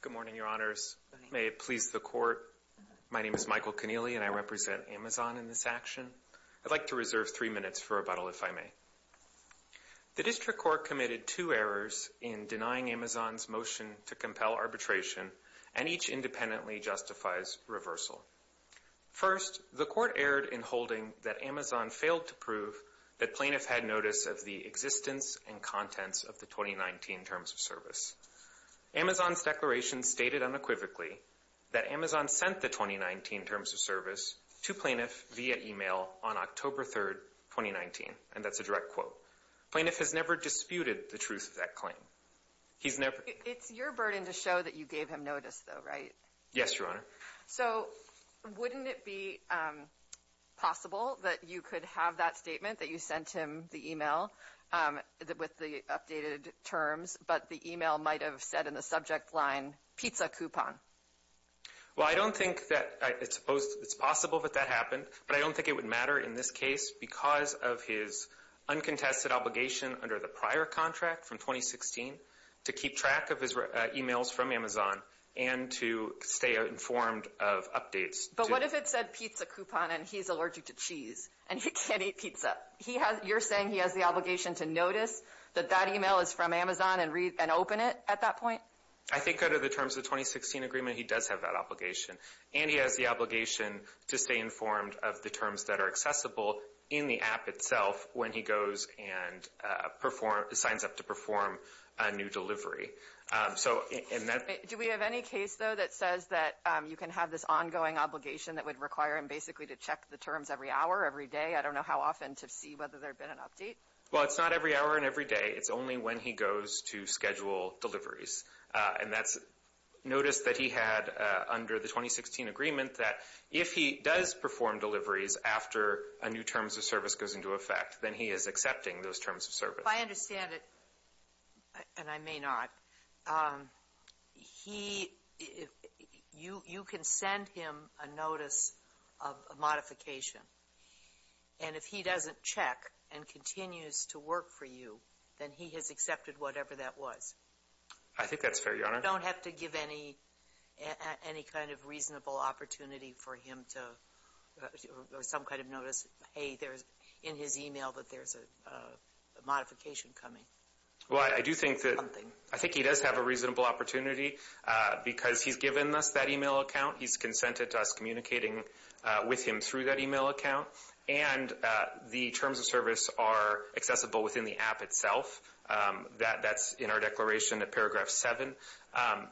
Good morning, your honors. May it please the court. My name is Michael Keneally and I represent AMZN in this action. I'd like to reserve three minutes for rebuttal if I may. The district court committed two errors in denying AMZN's motion to compel arbitration and each independently justifies reversal. First, the court erred in holding that AMZN failed to prove that contents of the 2019 Terms of Service. AMZN's declaration stated unequivocally that AMZN sent the 2019 Terms of Service to plaintiff via email on October 3rd, 2019. And that's a direct quote. Plaintiff has never disputed the truth of that claim. He's never... It's your burden to show that you gave him notice though, right? Yes, your honor. So wouldn't it be possible that you could have that statement that you sent him the updated terms, but the email might have said in the subject line, pizza coupon? Well, I don't think that it's possible that that happened, but I don't think it would matter in this case because of his uncontested obligation under the prior contract from 2016 to keep track of his emails from Amazon and to stay informed of updates. But what if it said pizza coupon and he's allergic to cheese and he can't eat pizza? You're saying he has the obligation to notice that that email is from Amazon and open it at that point? I think under the terms of the 2016 agreement, he does have that obligation. And he has the obligation to stay informed of the terms that are accessible in the app itself when he goes and signs up to perform a new delivery. Do we have any case though that says that you can have this ongoing obligation that would require him basically to check the terms every hour, every day? I don't know how often to see whether there'd been an update. Well, it's not every hour and every day. It's only when he goes to schedule deliveries. And that's notice that he had under the 2016 agreement that if he does perform deliveries after a new terms of service goes into effect, then he is accepting those terms of service. I understand it, and I may not. He, you can send him a notice of modification. And if he doesn't check and continues to work for you, then he has accepted whatever that was. I think that's fair, Your Honor. You don't have to give any kind of reasonable opportunity for him to, or some kind of notice, hey, there's in his email that there's a modification coming. Well, I do think that he does have a reasonable opportunity because he's given us that email account, and the terms of service are accessible within the app itself. That's in our declaration at paragraph seven.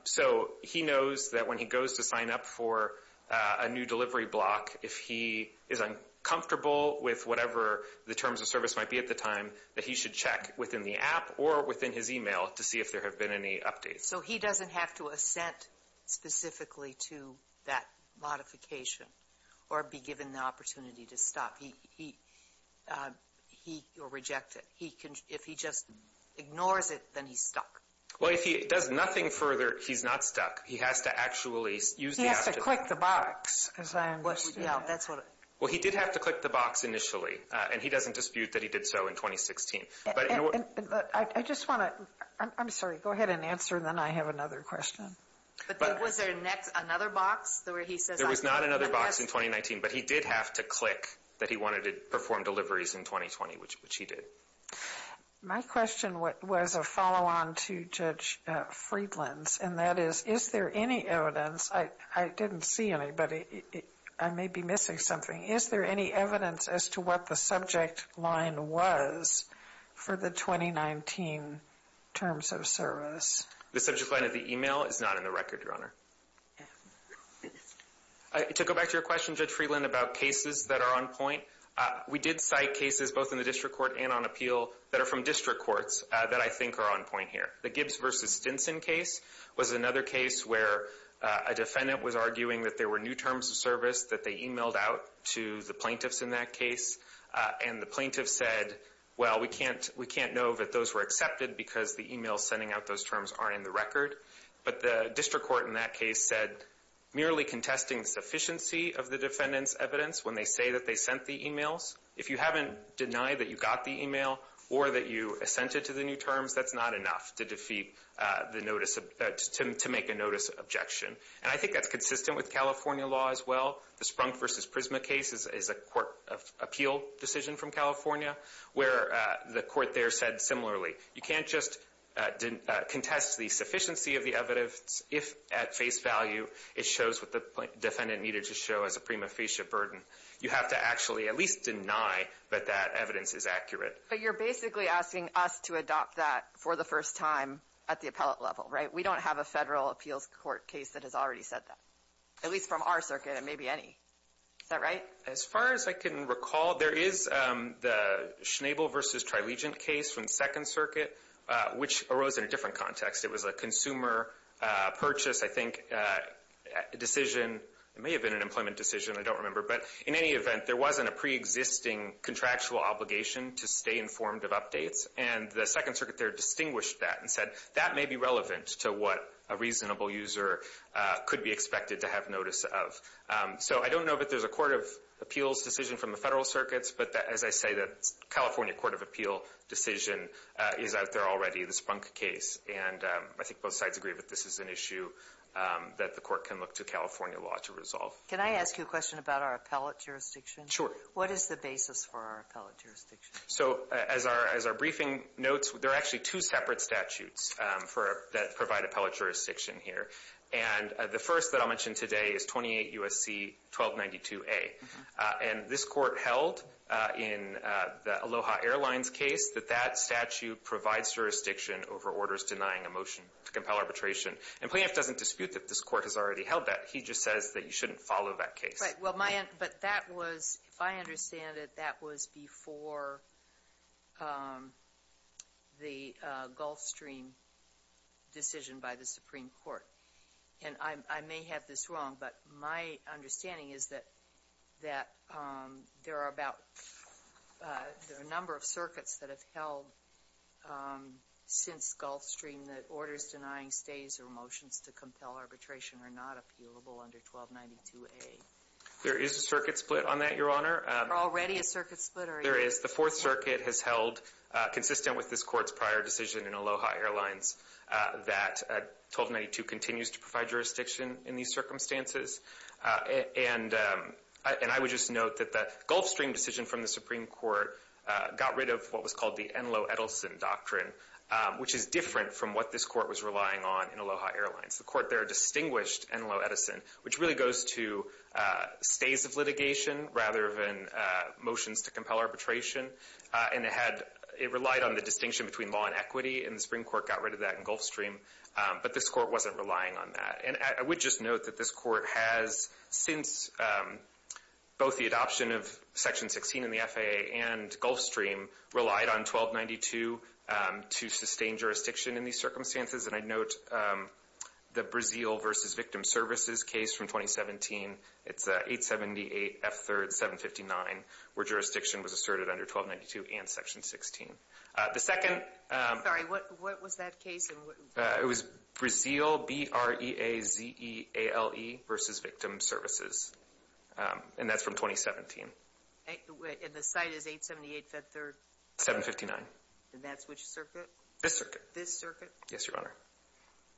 So he knows that when he goes to sign up for a new delivery block, if he is uncomfortable with whatever the terms of service might be at the time, that he should check within the app or within his email to see if there have been any updates. So he doesn't have to assent specifically to that modification or be given the opportunity to stop. He, he, he, or reject it. He can, if he just ignores it, then he's stuck. Well, if he does nothing further, he's not stuck. He has to actually use the app to... He has to click the box, as I understand. Yeah, that's what... Well, he did have to click the box initially, and he doesn't dispute that he did so in 2016. But I just want to... I'm sorry, go ahead and answer, then I have another question. But was there next, another box where he says... There was not another box in 2019, but he did have to click that he wanted to perform deliveries in 2020, which he did. My question was a follow-on to Judge Friedland's, and that is, is there any evidence... I didn't see any, but I may be missing something. Is there any evidence as to what the subject line was for the 2019 terms of service? The subject line of the email is not in the record, Your Honor. To go back to your question, Judge Friedland, about cases that are on point, we did cite cases both in the district court and on appeal that are from district courts that I think are on point here. The Gibbs v. Stinson case was another case where a defendant was arguing that there were new terms of service that they emailed out to the plaintiffs in that case. And the plaintiffs said, well, we can't know that those were accepted because the emails sending out those terms aren't in the record. But the district court in that case said, merely contesting the sufficiency of the defendant's evidence when they say that they sent the emails. If you haven't denied that you got the email or that you assented to the new terms, that's not enough to defeat the notice... to make a notice objection. And I think that's consistent with California law as well. The Sprunk v. Prisma case is a court of appeal decision from California, where the court there said similarly, you can't just contest the sufficiency of the evidence if, at face value, it shows what the defendant needed to show as a prima facie burden. You have to actually at least deny that that evidence is accurate. But you're basically asking us to adopt that for the first time at the appellate level, right? We don't have a federal appeals court case that has already said that. At least from our circuit, it may be any. Is that right? As far as I can recall, there is the Schnabel v. Trilegent case from Second Circuit, which arose in a different context. It was a consumer purchase, I think, decision. It may have been an employment decision. I don't remember. But in any event, there wasn't a preexisting contractual obligation to stay informed of updates. And the Second Circuit there distinguished that and said, that may be relevant to what a reasonable user could be expected to have notice of. So I don't know that there's a court of appeals decision from the federal circuits. But as I say, the California court of appeal decision is out there already, the Sprunk case. And I think both sides agree that this is an issue that the court can look to California law to resolve. Can I ask you a question about our appellate jurisdiction? Sure. What is the basis for our appellate jurisdiction? So as our briefing notes, there are actually two separate statutes that provide appellate jurisdiction here. And the first that I'll mention today is 28 U.S.C. 1292A. And this court held in the Aloha Airlines case that that statute provides jurisdiction over orders denying a motion to compel arbitration. And Planoff doesn't dispute that this court has already held that. He just says that you shouldn't follow that case. Right, well my, but that was, if I understand it, that was before the Gulfstream decision by the Supreme Court. And I may have this wrong, but my understanding is that there are about, there are a number of circuits that have held since Gulfstream, that orders denying stays or motions to compel arbitration are not appealable under 1292A. There is a circuit split on that, Your Honor. Already a circuit split, or are you- There is. The Fourth Circuit has held, consistent with this court's prior decision in Aloha Airlines, that 1292 continues to provide jurisdiction in these circumstances. And I would just note that the Gulfstream decision from the Supreme Court got rid of what was called the Enloe-Edelson Doctrine, which is different from what this court was relying on in Aloha Airlines. The court there distinguished Enloe-Edelson, which really goes to stays of litigation, rather than motions to compel arbitration. And it had, it relied on the distinction between law and equity. And the Supreme Court got rid of that in Gulfstream. But this court wasn't relying on that. And I would just note that this court has, since both the adoption of Section 16 in the FAA and Gulfstream, relied on 1292 to sustain jurisdiction in these circumstances. And I'd note the Brazil versus Victim Services case from 2017. It's 878 F3rd 759, where jurisdiction was asserted under 1292 and Section 16. The second- Sorry, what was that case? It was Brazil, B-R-E-A-Z-E-A-L-E versus Victim Services. And that's from 2017. And the site is 878 F3rd? 759. And that's which circuit? This circuit. This circuit? Yes, Your Honor.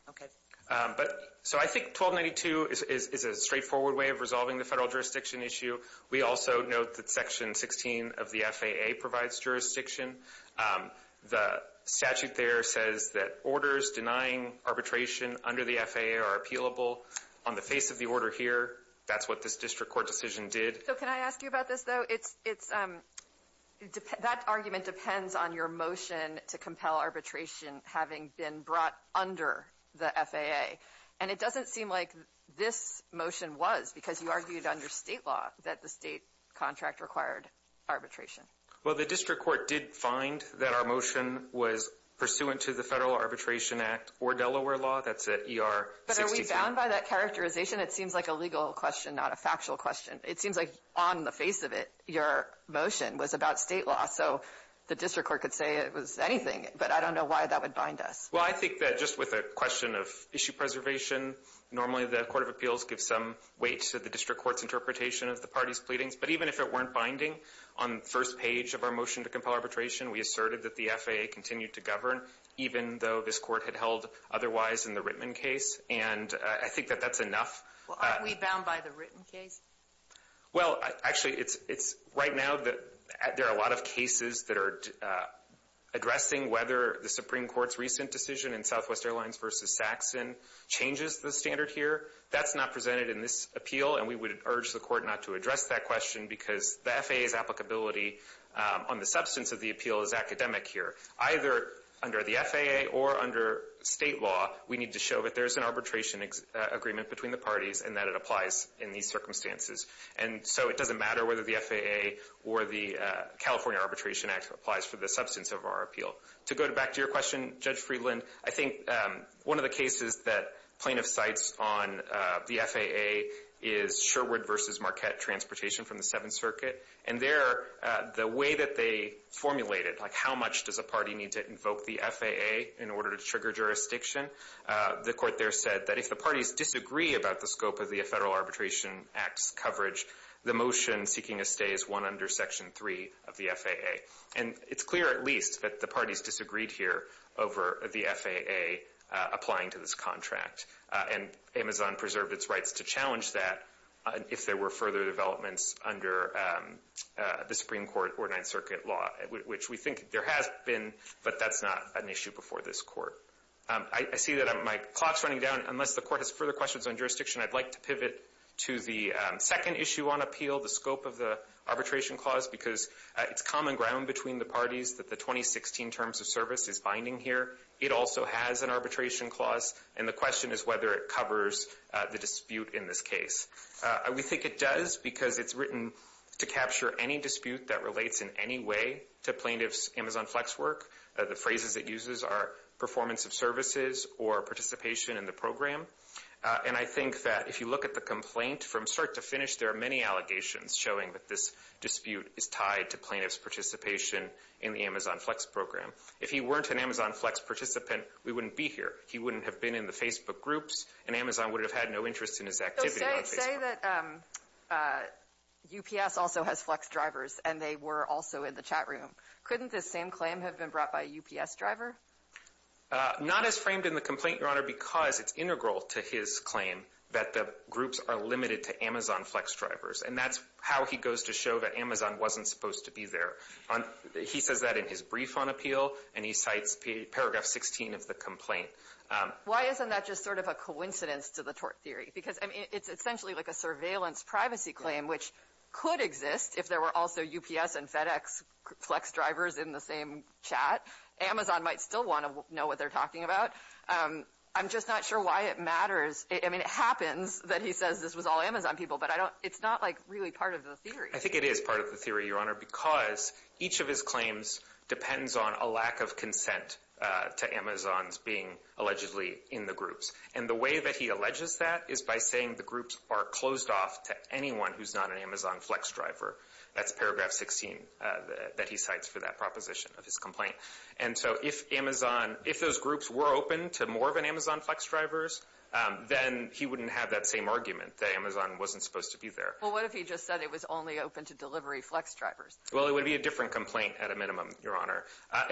Okay. But, so I think 1292 is a straightforward way of resolving the federal jurisdiction issue. We also note that Section 16 of the FAA provides jurisdiction. The statute there says that orders denying arbitration under the FAA are appealable on the face of the order here. That's what this district court decision did. So can I ask you about this, though? That argument depends on your motion to compel arbitration having been brought under the FAA. And it doesn't seem like this motion was because you argued under state law that the state contract required arbitration. Well, the district court did find that our motion was pursuant to the Federal Arbitration Act or Delaware law. That's at ER- But are we bound by that characterization? It seems like a legal question, not a factual question. It seems like on the face of it, your motion was about state law. So the district court could say it was anything. But I don't know why that would bind us. Well, I think that just with a question of issue preservation, normally the Court of Appeals gives some weight to the district court's interpretation of the party's pleadings. But even if it weren't binding on the first page of our motion to compel arbitration, we asserted that the FAA continued to govern, even though this court had held otherwise in the Rittman case. And I think that that's enough. Well, aren't we bound by the Rittman case? Well, actually, it's right now that there are a lot of cases that are addressing whether the Supreme Court's recent decision in Southwest Airlines v. Saxon changes the standard here. That's not presented in this appeal. And we would urge the court not to address that question because the FAA's applicability on the substance of the appeal is academic here. Either under the FAA or under state law, we need to show that there's an arbitration agreement between the parties and that it applies in these circumstances. And so it doesn't matter whether the FAA or the California Arbitration Act applies for the substance of our appeal. To go back to your question, Judge Friedland, I think one of the cases that plaintiff cites on the FAA is Sherwood v. Marquette transportation from the Seventh Circuit. And there, the way that they formulate it, like how much does a party need to invoke the FAA in order to trigger jurisdiction, the court there said that if the parties disagree about the scope of the Federal Arbitration Act's coverage, the motion seeking a stay is one under Section 3 of the FAA. And it's clear, at least, that the parties disagreed here over the FAA applying to this contract. And Amazon preserved its rights to challenge that if there were further developments under the Supreme Court or Ninth Circuit law, which we think there has been, but that's not an issue before this court. I see that my clock's running down. Unless the court has further questions on jurisdiction, I'd like to pivot to the second issue on appeal, the scope of the arbitration clause, because it's common ground between the parties that the 2016 terms of service is binding here. It also has an arbitration clause, and the question is whether it covers the dispute in this case. We think it does because it's written to capture any dispute that relates in any way to plaintiff's Amazon Flex work. The phrases it uses are performance of services or participation in the program. And I think that if you look at the complaint, from start to finish, there are many allegations showing that this dispute is tied to plaintiff's participation in the Amazon Flex program. If he weren't an Amazon Flex participant, we wouldn't be here. He wouldn't have been in the Facebook groups, and Amazon would have had no interest in his activity on Facebook. Say that UPS also has Flex drivers, and they were also in the chat room. Not as framed in the complaint, Your Honor, because it's integral to his claim that the groups are limited to Amazon Flex drivers, and that's how he goes to show that Amazon wasn't supposed to be there. He says that in his brief on appeal, and he cites paragraph 16 of the complaint. Why isn't that just sort of a coincidence to the tort theory? Because it's essentially like a surveillance privacy claim, which could exist if there were also UPS and FedEx Flex drivers in the same chat. Amazon might still want to know what they're talking about. I'm just not sure why it matters. I mean, it happens that he says this was all Amazon people, but it's not like really part of the theory. I think it is part of the theory, Your Honor, because each of his claims depends on a lack of consent to Amazon's being allegedly in the groups. And the way that he alleges that is by saying the groups are closed off to anyone who's not an Amazon Flex driver. That's paragraph 16 that he cites for that proposition of his complaint. And so if Amazon, if those groups were open to more of an Amazon Flex drivers, then he wouldn't have that same argument that Amazon wasn't supposed to be there. Well, what if he just said it was only open to delivery Flex drivers? Well, it would be a different complaint at a minimum, Your Honor.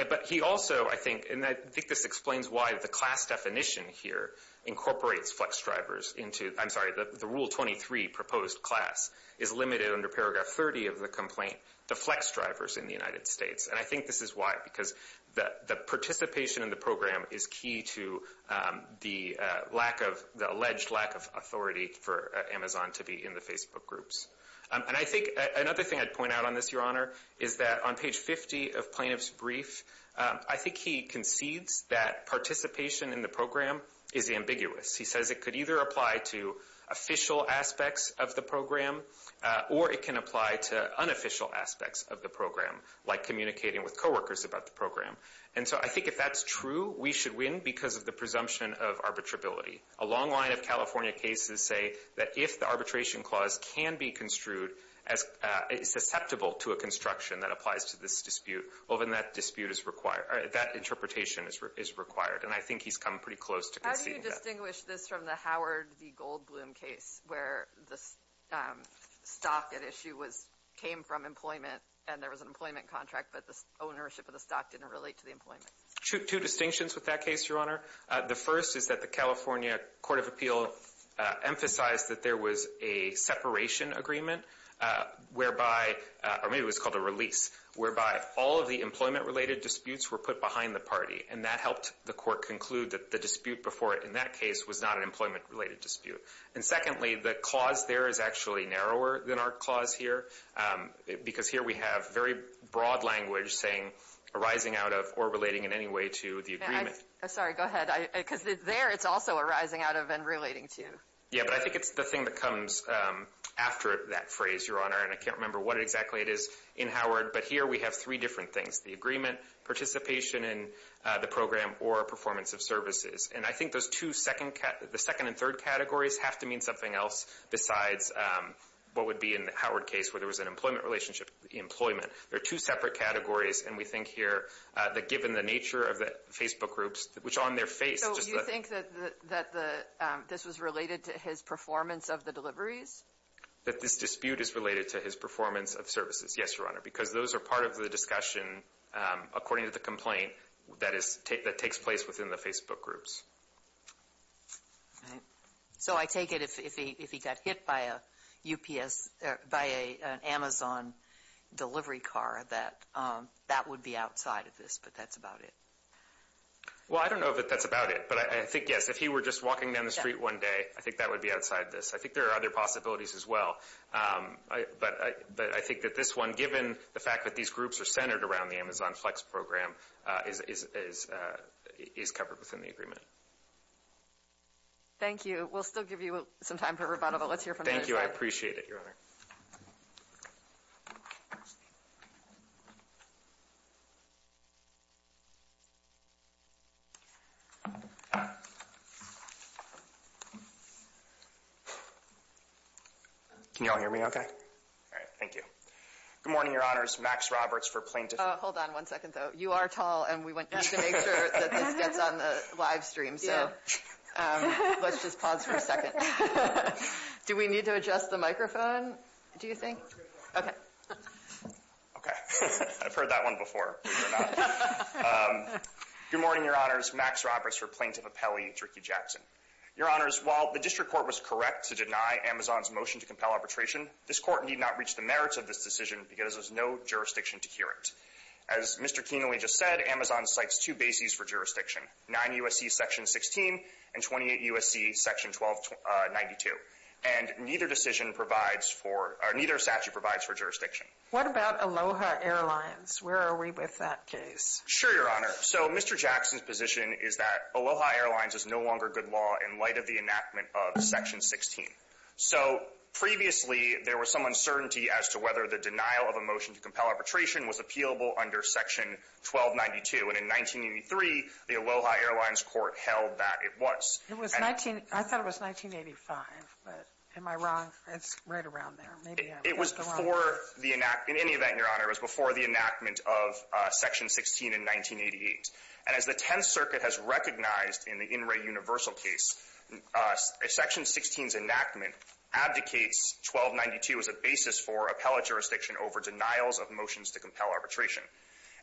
But he also, I think, and I think this explains why the class definition here incorporates Flex drivers into, I'm sorry, the Rule 23 proposed class is limited under paragraph 30 of the complaint to Flex drivers in the United States. And I think this is why, because the participation in the program is key to the alleged lack of authority for Amazon to be in the Facebook groups. And I think another thing I'd point out on this, Your Honor, is that on page 50 of Plaintiff's Brief, I think he concedes that participation in the program is ambiguous. He says it could either apply to official aspects of the program, or it can apply to unofficial aspects of the program, like communicating with coworkers about the program. And so I think if that's true, we should win because of the presumption of arbitrability. A long line of California cases say that if the arbitration clause can be construed as susceptible to a construction that applies to this dispute, well then that dispute is required, that interpretation is required. And I think he's come pretty close to conceding that. How do you distinguish this from the Howard v. Goldbloom case, where the stock at issue came from employment and there was an employment contract, but the ownership of the stock didn't relate to the employment? Two distinctions with that case, Your Honor. The first is that the California Court of Appeal emphasized that there was a separation agreement, whereby, or maybe it was called a release, whereby all of the employment-related disputes were put behind the party. And that helped the court conclude that the dispute before it in that case was not an employment-related dispute. And secondly, the clause there is actually narrower than our clause here, because here we have very broad language saying arising out of or relating in any way to the agreement. I'm sorry, go ahead. Because there it's also arising out of and relating to. Yeah, but I think it's the thing that comes after that phrase, Your Honor. And I can't remember what exactly it is in Howard, but here we have three different things, the agreement, participation in the program, or performance of services. And I think those two, the second and third categories have to mean something else besides what would be in the Howard case, where there was an employment relationship, employment. There are two separate categories, and we think here that given the nature of the Facebook groups, which on their face, just the- So you think that this was related to his performance of the deliveries? That this dispute is related to his performance of services. Yes, Your Honor, because those are part of the discussion, according to the complaint, that takes place within the Facebook groups. All right. So I take it if he got hit by a UPS, by an Amazon delivery car, that that would be outside of this, but that's about it. Well, I don't know that that's about it, but I think, yes, if he were just walking down the street one day, I think that would be outside this. I think there are other possibilities as well. But I think that this one, given the fact that these groups are centered around the Amazon Flex program, is covered within the agreement. Thank you. but let's hear from- Thank you. I appreciate it, Your Honor. Thank you. Can you all hear me okay? All right. Thank you. Good morning, Your Honors. Max Roberts for plaintiff. Hold on one second, though. You are tall and we want to make sure that this gets on the live stream. So let's just pause for a second. Do we need to adjust the microphone? Do you think? Okay. Okay. I've heard that one before. Good morning, Your Honors. Max Roberts for plaintiff appellee, Dricky Jackson. Your Honors, while the district court was correct to deny Amazon's motion to compel arbitration, this court need not reach the merits of this decision because there's no jurisdiction to hear it. As Mr. Kienle just said, Amazon cites two bases for jurisdiction, 9 U.S.C. section 16 and 28 U.S.C. section 1292. And neither decision provides for — neither statute provides for jurisdiction. What about Aloha Airlines? Where are we with that case? Sure, Your Honor. So Mr. Jackson's position is that Aloha Airlines is no longer good law in light of the enactment of section 16. So previously, there was some uncertainty as to whether the denial of a motion to compel arbitration was appealable under section 1292. And in 1983, the Aloha Airlines court held that it was. It was 19 — I thought it was 1985. But am I wrong? It's right around there. Maybe I got it wrong. It was before the enact — in any event, Your Honor, it was before the enactment of section 16 in 1988. And as the Tenth Circuit has recognized in the In Re Universal case, section 16's enactment abdicates 1292 as a basis for appellate jurisdiction over denials of motions to compel arbitration.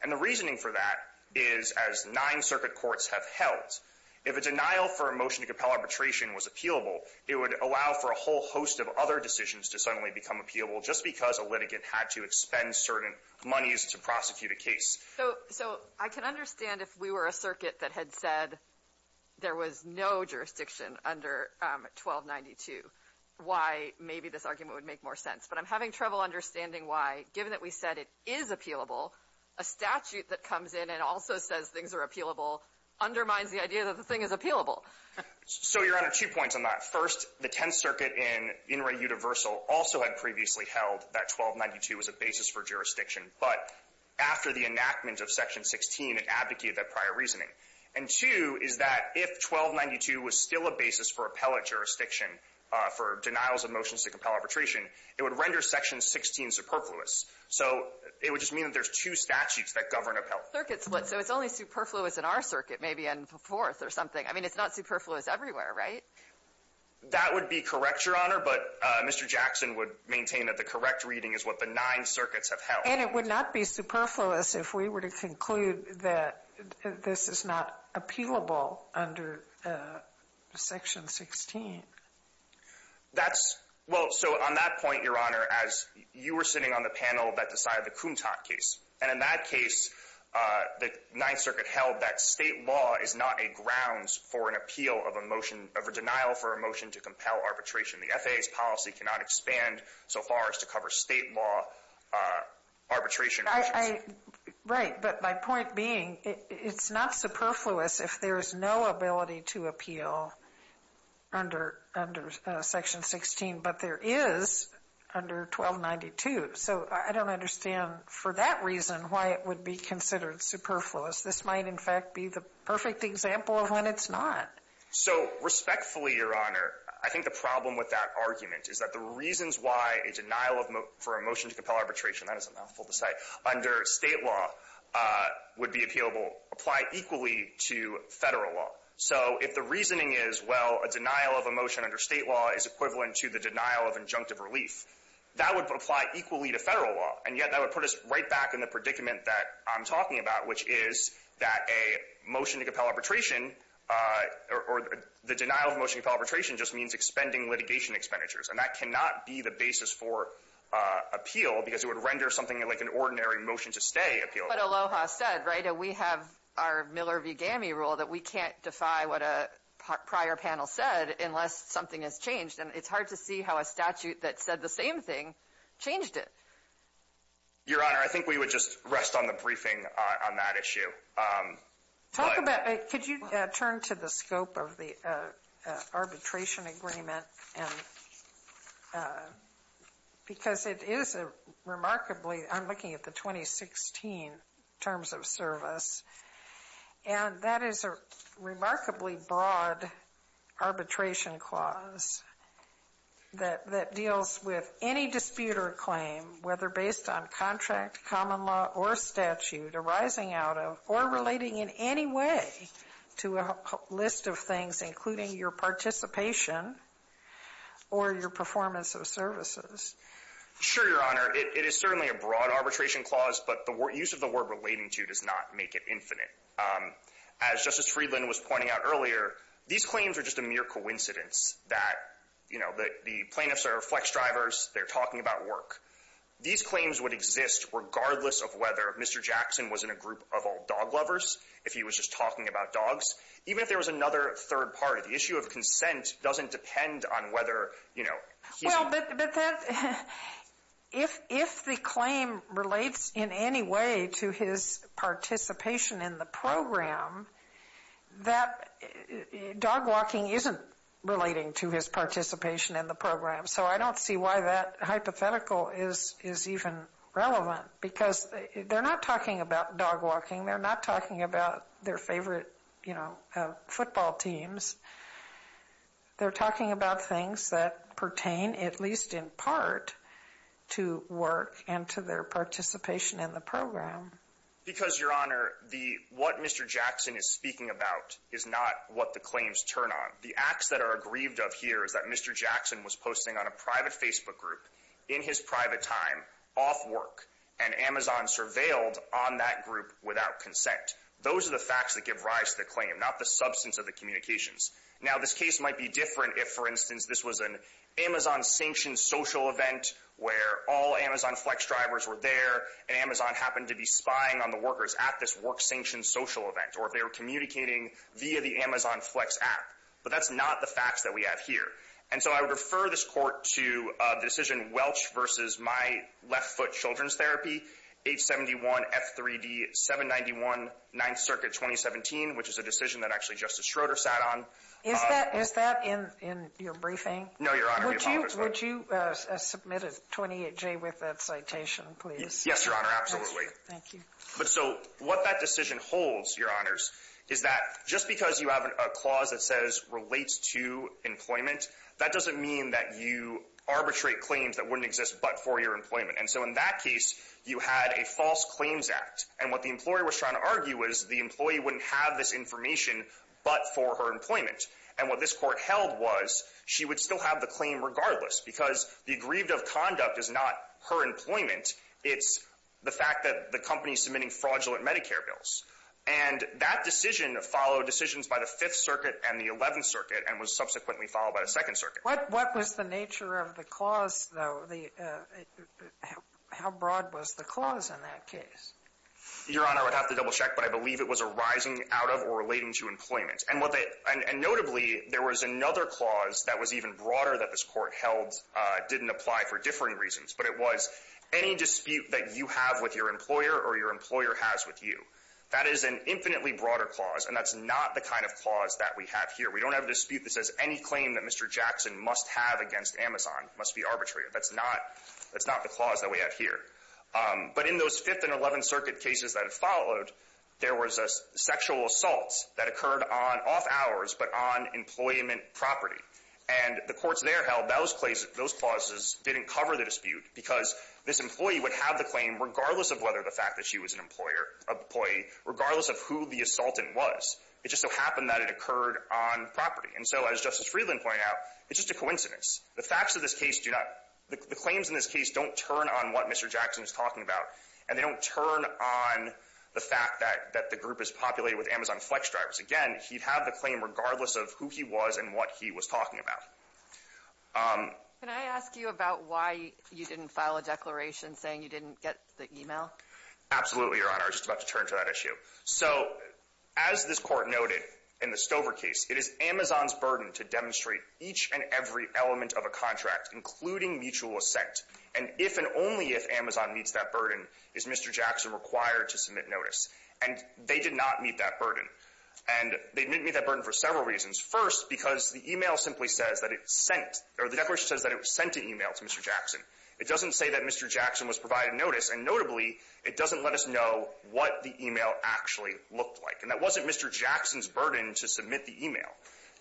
And the reasoning for that is, as nine circuit courts have held, if a denial for a motion to compel arbitration was appealable, it would allow for a whole host of other decisions to suddenly become appealable just because a litigant had to expend certain monies to prosecute a case. So — so I can understand if we were a circuit that had said there was no jurisdiction under 1292, why maybe this argument would make more sense. But I'm having trouble understanding why, given that we said it is appealable, a statute that comes in and also says things are appealable undermines the idea that the thing is appealable. So, Your Honor, two points on that. First, the Tenth Circuit in In Re Universal also had previously held that 1292 was a basis for jurisdiction. But after the enactment of section 16, it abdicated that prior reasoning. And two is that if 1292 was still a basis for appellate jurisdiction for denials of motions to compel arbitration, it would render section 16 superfluous. So it would just mean that there's two statutes that govern appellate. Circuit split. So it's only superfluous in our circuit, maybe in the Fourth or something. It's not superfluous everywhere, right? That would be correct, Your Honor. But Mr. Jackson would maintain that the correct reading is what the Ninth Circuits have held. And it would not be superfluous if we were to conclude that this is not appealable under section 16. That's — well, so on that point, Your Honor, as you were sitting on the panel that decided the Kuntat case. And in that case, the Ninth Circuit held that state law is not a grounds for an appeal of a motion of a denial for a motion to compel arbitration. The FAA's policy cannot expand so far as to cover state law arbitration. Right. But my point being, it's not superfluous if there's no ability to appeal under section 16. But there is under 1292. So I don't understand for that reason why it would be considered superfluous. This might, in fact, be the perfect example of when it's not. So respectfully, Your Honor, I think the problem with that argument is that the reasons why a denial for a motion to compel arbitration — that is a mouthful to say — under state law would be appealable apply equally to Federal law. So if the reasoning is, well, a denial of a motion under state law is equivalent to the denial of injunctive relief, that would apply equally to Federal law. And yet that would put us right back in the predicament that I'm talking about, which is that a motion to compel arbitration or the denial of a motion to compel arbitration just means expending litigation expenditures. And that cannot be the basis for appeal because it would render something like an ordinary motion-to-stay appealable. But Aloha said, right, we have our Miller v. GAMI rule that we can't defy what a prior panel said unless something has changed. And it's hard to see how a statute that said the same thing changed it. Your Honor, I think we would just rest on the briefing on that issue. Talk about, could you turn to the scope of the arbitration agreement? And because it is a remarkably, I'm looking at the 2016 terms of service and that is a remarkably broad arbitration clause that deals with any dispute or claim, whether based on contract, common law, or statute arising out of, or relating in any way to a list of things, including your participation or your performance of services. Sure, Your Honor. It is certainly a broad arbitration clause, but the use of the word relating to does not make it infinite. As Justice Friedland was pointing out earlier, these claims are just a mere coincidence that the plaintiffs are flex drivers, they're talking about work. These claims would exist regardless of whether Mr. Jackson was in a group of all dog lovers, if he was just talking about dogs. Even if there was another third part of the issue of consent doesn't depend on whether, you know, he's- Well, but that, if the claim relates in any way to his participation in the program, that dog walking isn't relating to his participation in the program. So I don't see why that hypothetical is even relevant, because they're not talking about dog walking, they're not talking about their favorite, you know, football teams. They're talking about things that pertain, at least in part, to work and to their participation in the program. Because, Your Honor, what Mr. Jackson is speaking about is not what the claims turn on. The acts that are aggrieved of here is that Mr. Jackson was posting on a private Facebook group, in his private time, off work, and Amazon surveilled on that group without consent. Those are the facts that give rise to the claim, not the substance of the communications. Now, this case might be different if, for instance, this was an Amazon-sanctioned social event where all Amazon Flex drivers were there, and Amazon happened to be spying on the workers at this work-sanctioned social event, or if they were communicating via the Amazon Flex app. But that's not the facts that we have here. And so I would refer this Court to the decision, Welch v. My Left Foot Children's Therapy, 871 F3D 791, 9th Circuit, 2017, which is a decision that actually Justice Schroeder sat on. Is that in your briefing? No, Your Honor. Would you submit a 28-J with that citation, please? Yes, Your Honor, absolutely. Thank you. But so what that decision holds, Your Honors, is that just because you have a clause that says, relates to employment, that doesn't mean that you arbitrate claims that wouldn't exist but for your employment. And so in that case, you had a false claims act. And what the employer was trying to argue was the employee wouldn't have this information but for her employment. And what this Court held was she would still have the claim regardless because the aggrieved of conduct is not her employment, it's the fact that the company's submitting fraudulent Medicare bills. And that decision followed decisions by the Fifth Circuit and the Eleventh Circuit, and was subsequently followed by the Second Circuit. What was the nature of the clause, though? How broad was the clause in that case? Your Honor, I would have to double-check, but I believe it was arising out of or relating to employment. And notably, there was another clause that was even broader that this Court held didn't apply for differing reasons. But it was any dispute that you have with your employer or your employer has with you. That is an infinitely broader clause, and that's not the kind of clause that we have here. We don't have a dispute that says any claim that Mr. Jackson must have against Amazon must be arbitrary. That's not the clause that we have here. But in those Fifth and Eleventh Circuit cases that followed, there was a sexual assault that occurred on off-hours but on employment property. And the courts there held those clauses didn't cover the dispute because this employee would have the claim regardless of whether the fact that she was an employer, an employee, regardless of who the assaultant was. It just so happened that it occurred on property. And so as Justice Friedland pointed out, it's just a coincidence. The facts of this case do not — the claims in this case don't turn on what Mr. Jackson is talking about, and they don't turn on the fact that the group is populated with Amazon flex drivers. Again, he'd have the claim regardless of who he was and what he was talking about. Alito Can I ask you about why you didn't file a declaration saying you didn't get the e-mail? Zuckerman Absolutely, Your Honor. I was just about to turn to that issue. So as this Court noted in the Stover case, it is Amazon's burden to demonstrate each and every element of a contract, including mutual assent. And if and only if Amazon meets that burden, is Mr. Jackson required to submit notice. And they did not meet that burden. And they didn't meet that burden for several reasons. First, because the e-mail simply says that it was sent — or the declaration says that it was sent an e-mail to Mr. Jackson. It doesn't say that Mr. Jackson was provided notice. And notably, it doesn't let us know what the e-mail actually looked like. And that wasn't Mr. Jackson's burden to submit the e-mail.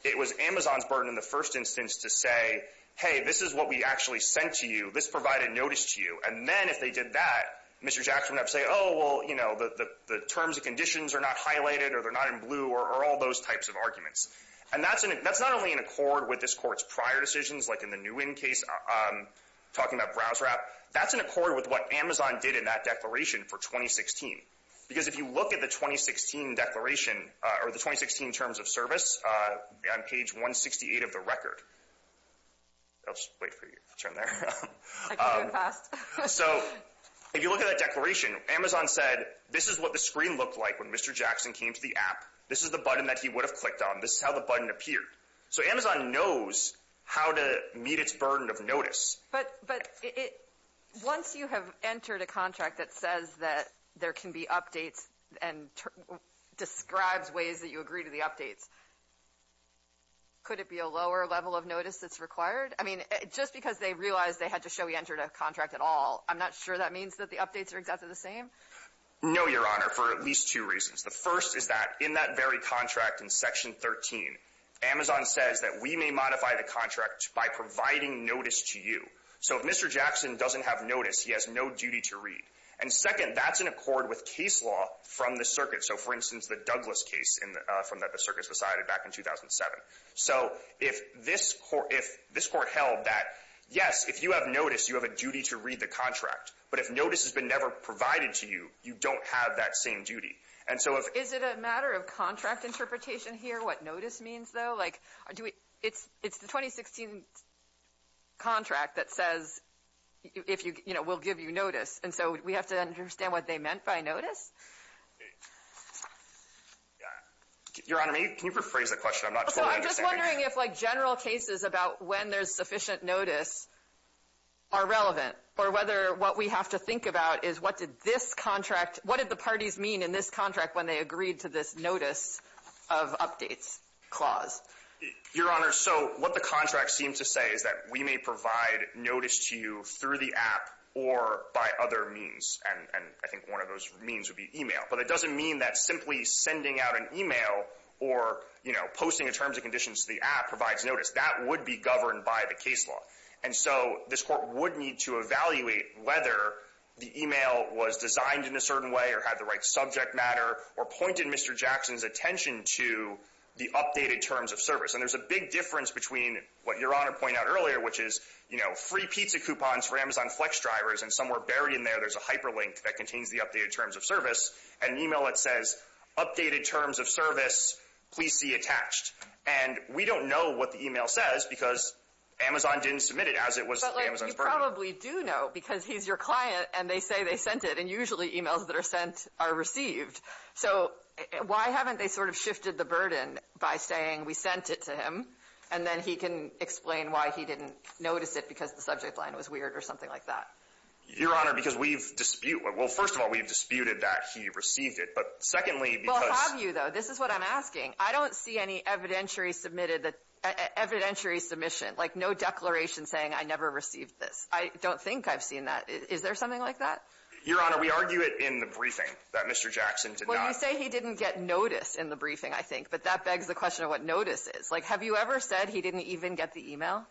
It was Amazon's burden in the first instance to say, hey, this is what we actually sent to you. This provided notice to you. And then if they did that, Mr. Jackson would have to say, oh, well, you know, the terms and conditions are not highlighted or they're not in blue or all those types of arguments. And that's not only in accord with this Court's prior decisions, like in the Nguyen case, talking about browser app. That's in accord with what Amazon did in that declaration for 2016. Because if you look at the 2016 declaration or the 2016 terms of service on page 168 of the record. Oops, wait for you to turn there. So if you look at that declaration, Amazon said, this is what the screen looked like when Mr. Jackson came to the app. This is the button that he would have clicked on. This is how the button appeared. So Amazon knows how to meet its burden of notice. But once you have entered a contract that says that there can be updates and describes ways that you agree to the updates. Could it be a lower level of notice that's required? I mean, just because they realized they had to show we entered a contract at all. I'm not sure that means that the updates are exactly the same. No, Your Honor, for at least two reasons. The first is that in that very contract in section 13, Amazon says that we may modify the contract by providing notice to you. So if Mr. Jackson doesn't have notice, he has no duty to read. And second, that's in accord with case law from the circuit. So, for instance, the Douglas case from that the circuit decided back in 2007. So if this court held that, yes, if you have notice, you have a duty to read the contract. But if notice has been never provided to you, you don't have that same duty. And so is it a matter of contract interpretation here? What notice means, though? Like, do we it's it's the 2016 contract that says, if you know, we'll give you notice. And so we have to understand what they meant by notice. Your Honor, can you rephrase the question? I'm not sure. I'm just wondering if like general cases about when there's sufficient notice. Are relevant or whether what we have to think about is what did this contract? What did the parties mean in this contract when they agreed to this notice of updates clause? Your Honor, so what the contract seemed to say is that we may provide notice to you through the app or by other means. And I think one of those means would be email. But it doesn't mean that simply sending out an email or, you know, posting a terms and conditions to the app provides notice. That would be governed by the case law. And so this Court would need to evaluate whether the email was designed in a certain way or had the right subject matter or pointed Mr. Jackson's attention to the updated terms of service. And there's a big difference between what Your Honor pointed out earlier, which is, you know, free pizza coupons for Amazon Flex drivers. And somewhere buried in there, there's a hyperlink that contains the updated terms of service. An email that says, updated terms of service, please see attached. And we don't know what the email says because Amazon didn't submit it as it was Amazon's burden. But you probably do know because he's your client and they say they sent it. And usually emails that are sent are received. So why haven't they sort of shifted the burden by saying we sent it to him and then he can explain why he didn't notice it because the subject line was weird or something like that? Your Honor, because we've disputed it. Well, first of all, we've disputed that he received it. But secondly, because- Well, have you, though? This is what I'm asking. I don't see any evidentiary submitted that evidentiary submission, like no declaration saying I never received this. I don't think I've seen that. Is there something like that? Your Honor, we argue it in the briefing that Mr. Jackson did not- Well, you say he didn't get notice in the briefing, I think. But that begs the question of what notice is. Like, have you ever said he didn't even get the email?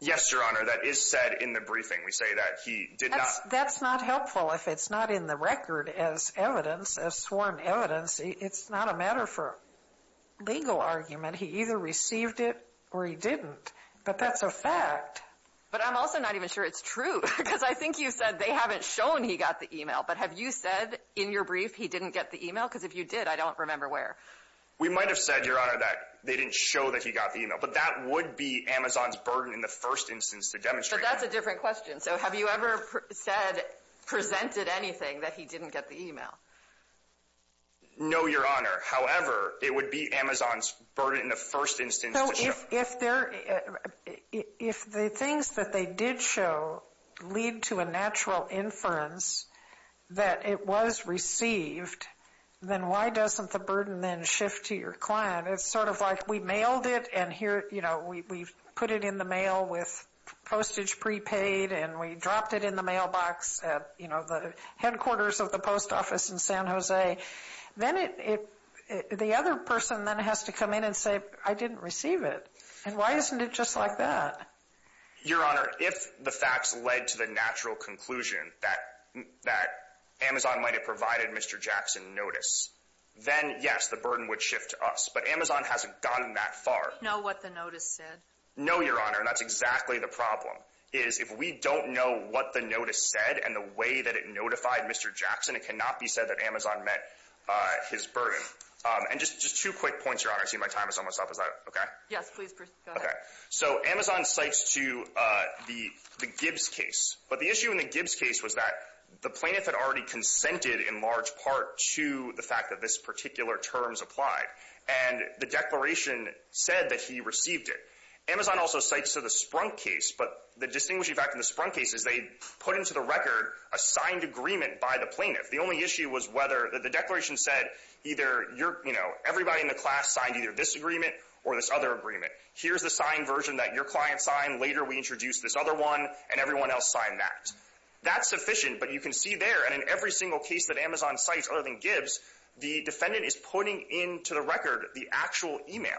Yes, Your Honor. That is said in the briefing. We say that he did not- That's not helpful if it's not in the record as evidence, as sworn evidence. It's not a matter for legal argument. He either received it or he didn't. But that's a fact. But I'm also not even sure it's true. Because I think you said they haven't shown he got the email. But have you said in your brief he didn't get the email? Because if you did, I don't remember where. We might have said, Your Honor, that they didn't show that he got the email. But that would be Amazon's burden in the first instance to demonstrate that. But that's a different question. So have you ever said, presented anything that he didn't get the email? No, Your Honor. However, it would be Amazon's burden in the first instance to show- So if the things that they did show lead to a natural inference that it was received, then why doesn't the burden then shift to your client? It's sort of like we mailed it and here, you know, we put it in the mail with postage prepaid and we dropped it in the mailbox at, you know, the headquarters of the post office in San Jose. Then it, the other person then has to come in and say, I didn't receive it. And why isn't it just like that? Your Honor, if the facts led to the natural conclusion that Amazon might have provided Mr. Jackson notice, then yes, the burden would shift to us. But Amazon hasn't gone that far. Do you know what the notice said? No, Your Honor. And that's exactly the problem is if we don't know what the notice said and the way that it notified Mr. Jackson, it cannot be said that Amazon met his burden. And just two quick points, Your Honor. I see my time is almost up. Is that OK? Yes, please go ahead. So Amazon cites to the Gibbs case. But the issue in the Gibbs case was that the plaintiff had already consented in large part to the fact that this particular terms applied. And the declaration said that he received it. Amazon also cites to the Sprunk case, but the distinguishing fact in the Sprunk case is they put into the record a signed agreement by the plaintiff. The only issue was whether the declaration said either you're, you know, everybody in the class signed either this agreement or this other agreement. Here's the signed version that your client signed. Later, we introduced this other one and everyone else signed that. That's sufficient. But you can see there and in every single case that Amazon cites other than Gibbs, the defendant is putting into the record the actual email.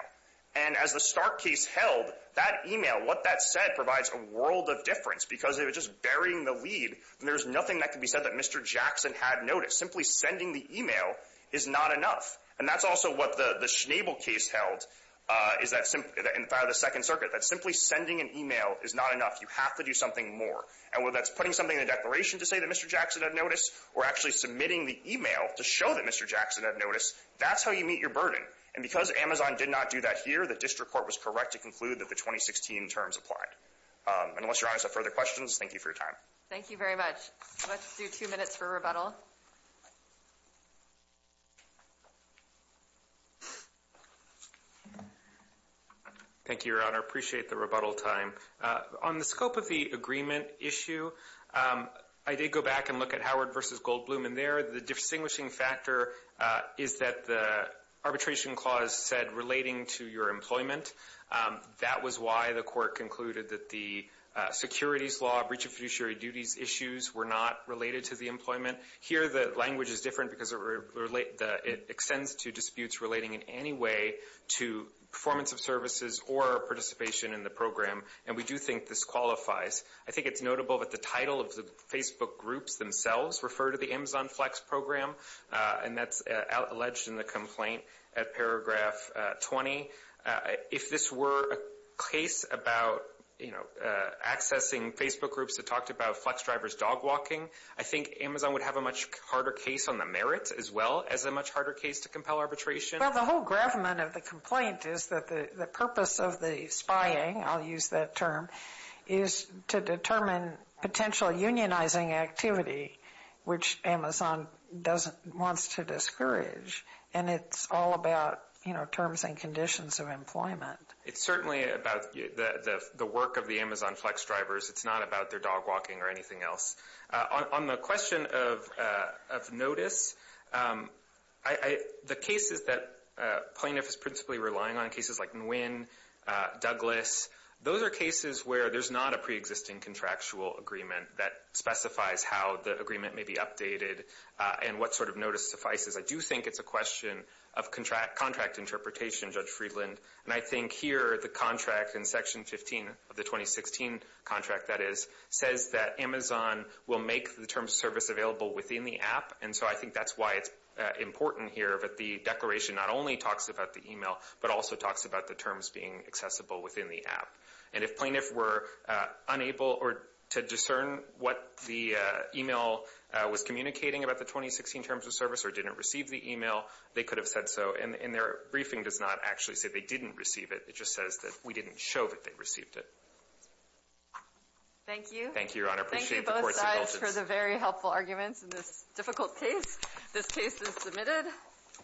And as the Stark case held, that email, what that said provides a world of difference because it was just burying the lead. There's nothing that can be said that Mr. Jackson had noticed. Simply sending the email is not enough. And that's also what the Schnabel case held is that in the Second Circuit, that simply sending an email is not enough. You have to do something more. And whether that's putting something in the declaration to say that Mr. Jackson had noticed or actually submitting the email to show that Mr. Jackson had noticed, that's how you meet your burden. And because Amazon did not do that here, the district court was correct to conclude that the 2016 terms applied. Unless Your Honor has further questions, thank you for your time. Thank you very much. Let's do two minutes for rebuttal. Thank you, Your Honor. I appreciate the rebuttal time. On the scope of the agreement issue, I did go back and look at Howard v. Goldbloom in there. The distinguishing factor is that the arbitration clause said relating to your employment. That was why the court concluded that the securities law, breach of fiduciary duties issues were not related to the employment. Here, the language is different because it extends to disputes relating in any way to performance of services or participation in the program. And we do think this qualifies. I think it's notable that the title of the Facebook groups themselves refer to the Amazon Flex program. And that's alleged in the complaint at paragraph 20. If this were a case about accessing Facebook groups that talked about Flex drivers dog walking, I think Amazon would have a much harder case on the merits as well as a much harder case to compel arbitration. Well, the whole gravamen of the complaint is that the purpose of the spying, I'll use that term, is to determine potential unionizing activity, which Amazon wants to discourage. And it's all about, you know, terms and conditions of employment. It's certainly about the work of the Amazon Flex drivers. It's not about their dog walking or anything else. On the question of notice, the cases that plaintiff is principally relying on, cases like Nguyen, Douglas, those are cases where there's not a preexisting contractual agreement that specifies how the agreement may be updated and what sort of notice suffices. I do think it's a question of contract interpretation, Judge Friedland. And I think here, the contract in Section 15 of the 2016 contract, that is, says that Amazon will make the terms of service available within the app. And so I think that's why it's important here that the declaration not only talks about the email, but also talks about the terms being accessible within the app. And if plaintiff were unable or to discern what the email was communicating about the 2016 terms of service or didn't receive the email, they could have said so. And their briefing does not actually say they didn't receive it. It just says that we didn't show that they received it. Thank you. Thank you, Your Honor. I appreciate the court's indulgence. Thank you both sides for the very helpful arguments in this difficult case. This case is submitted.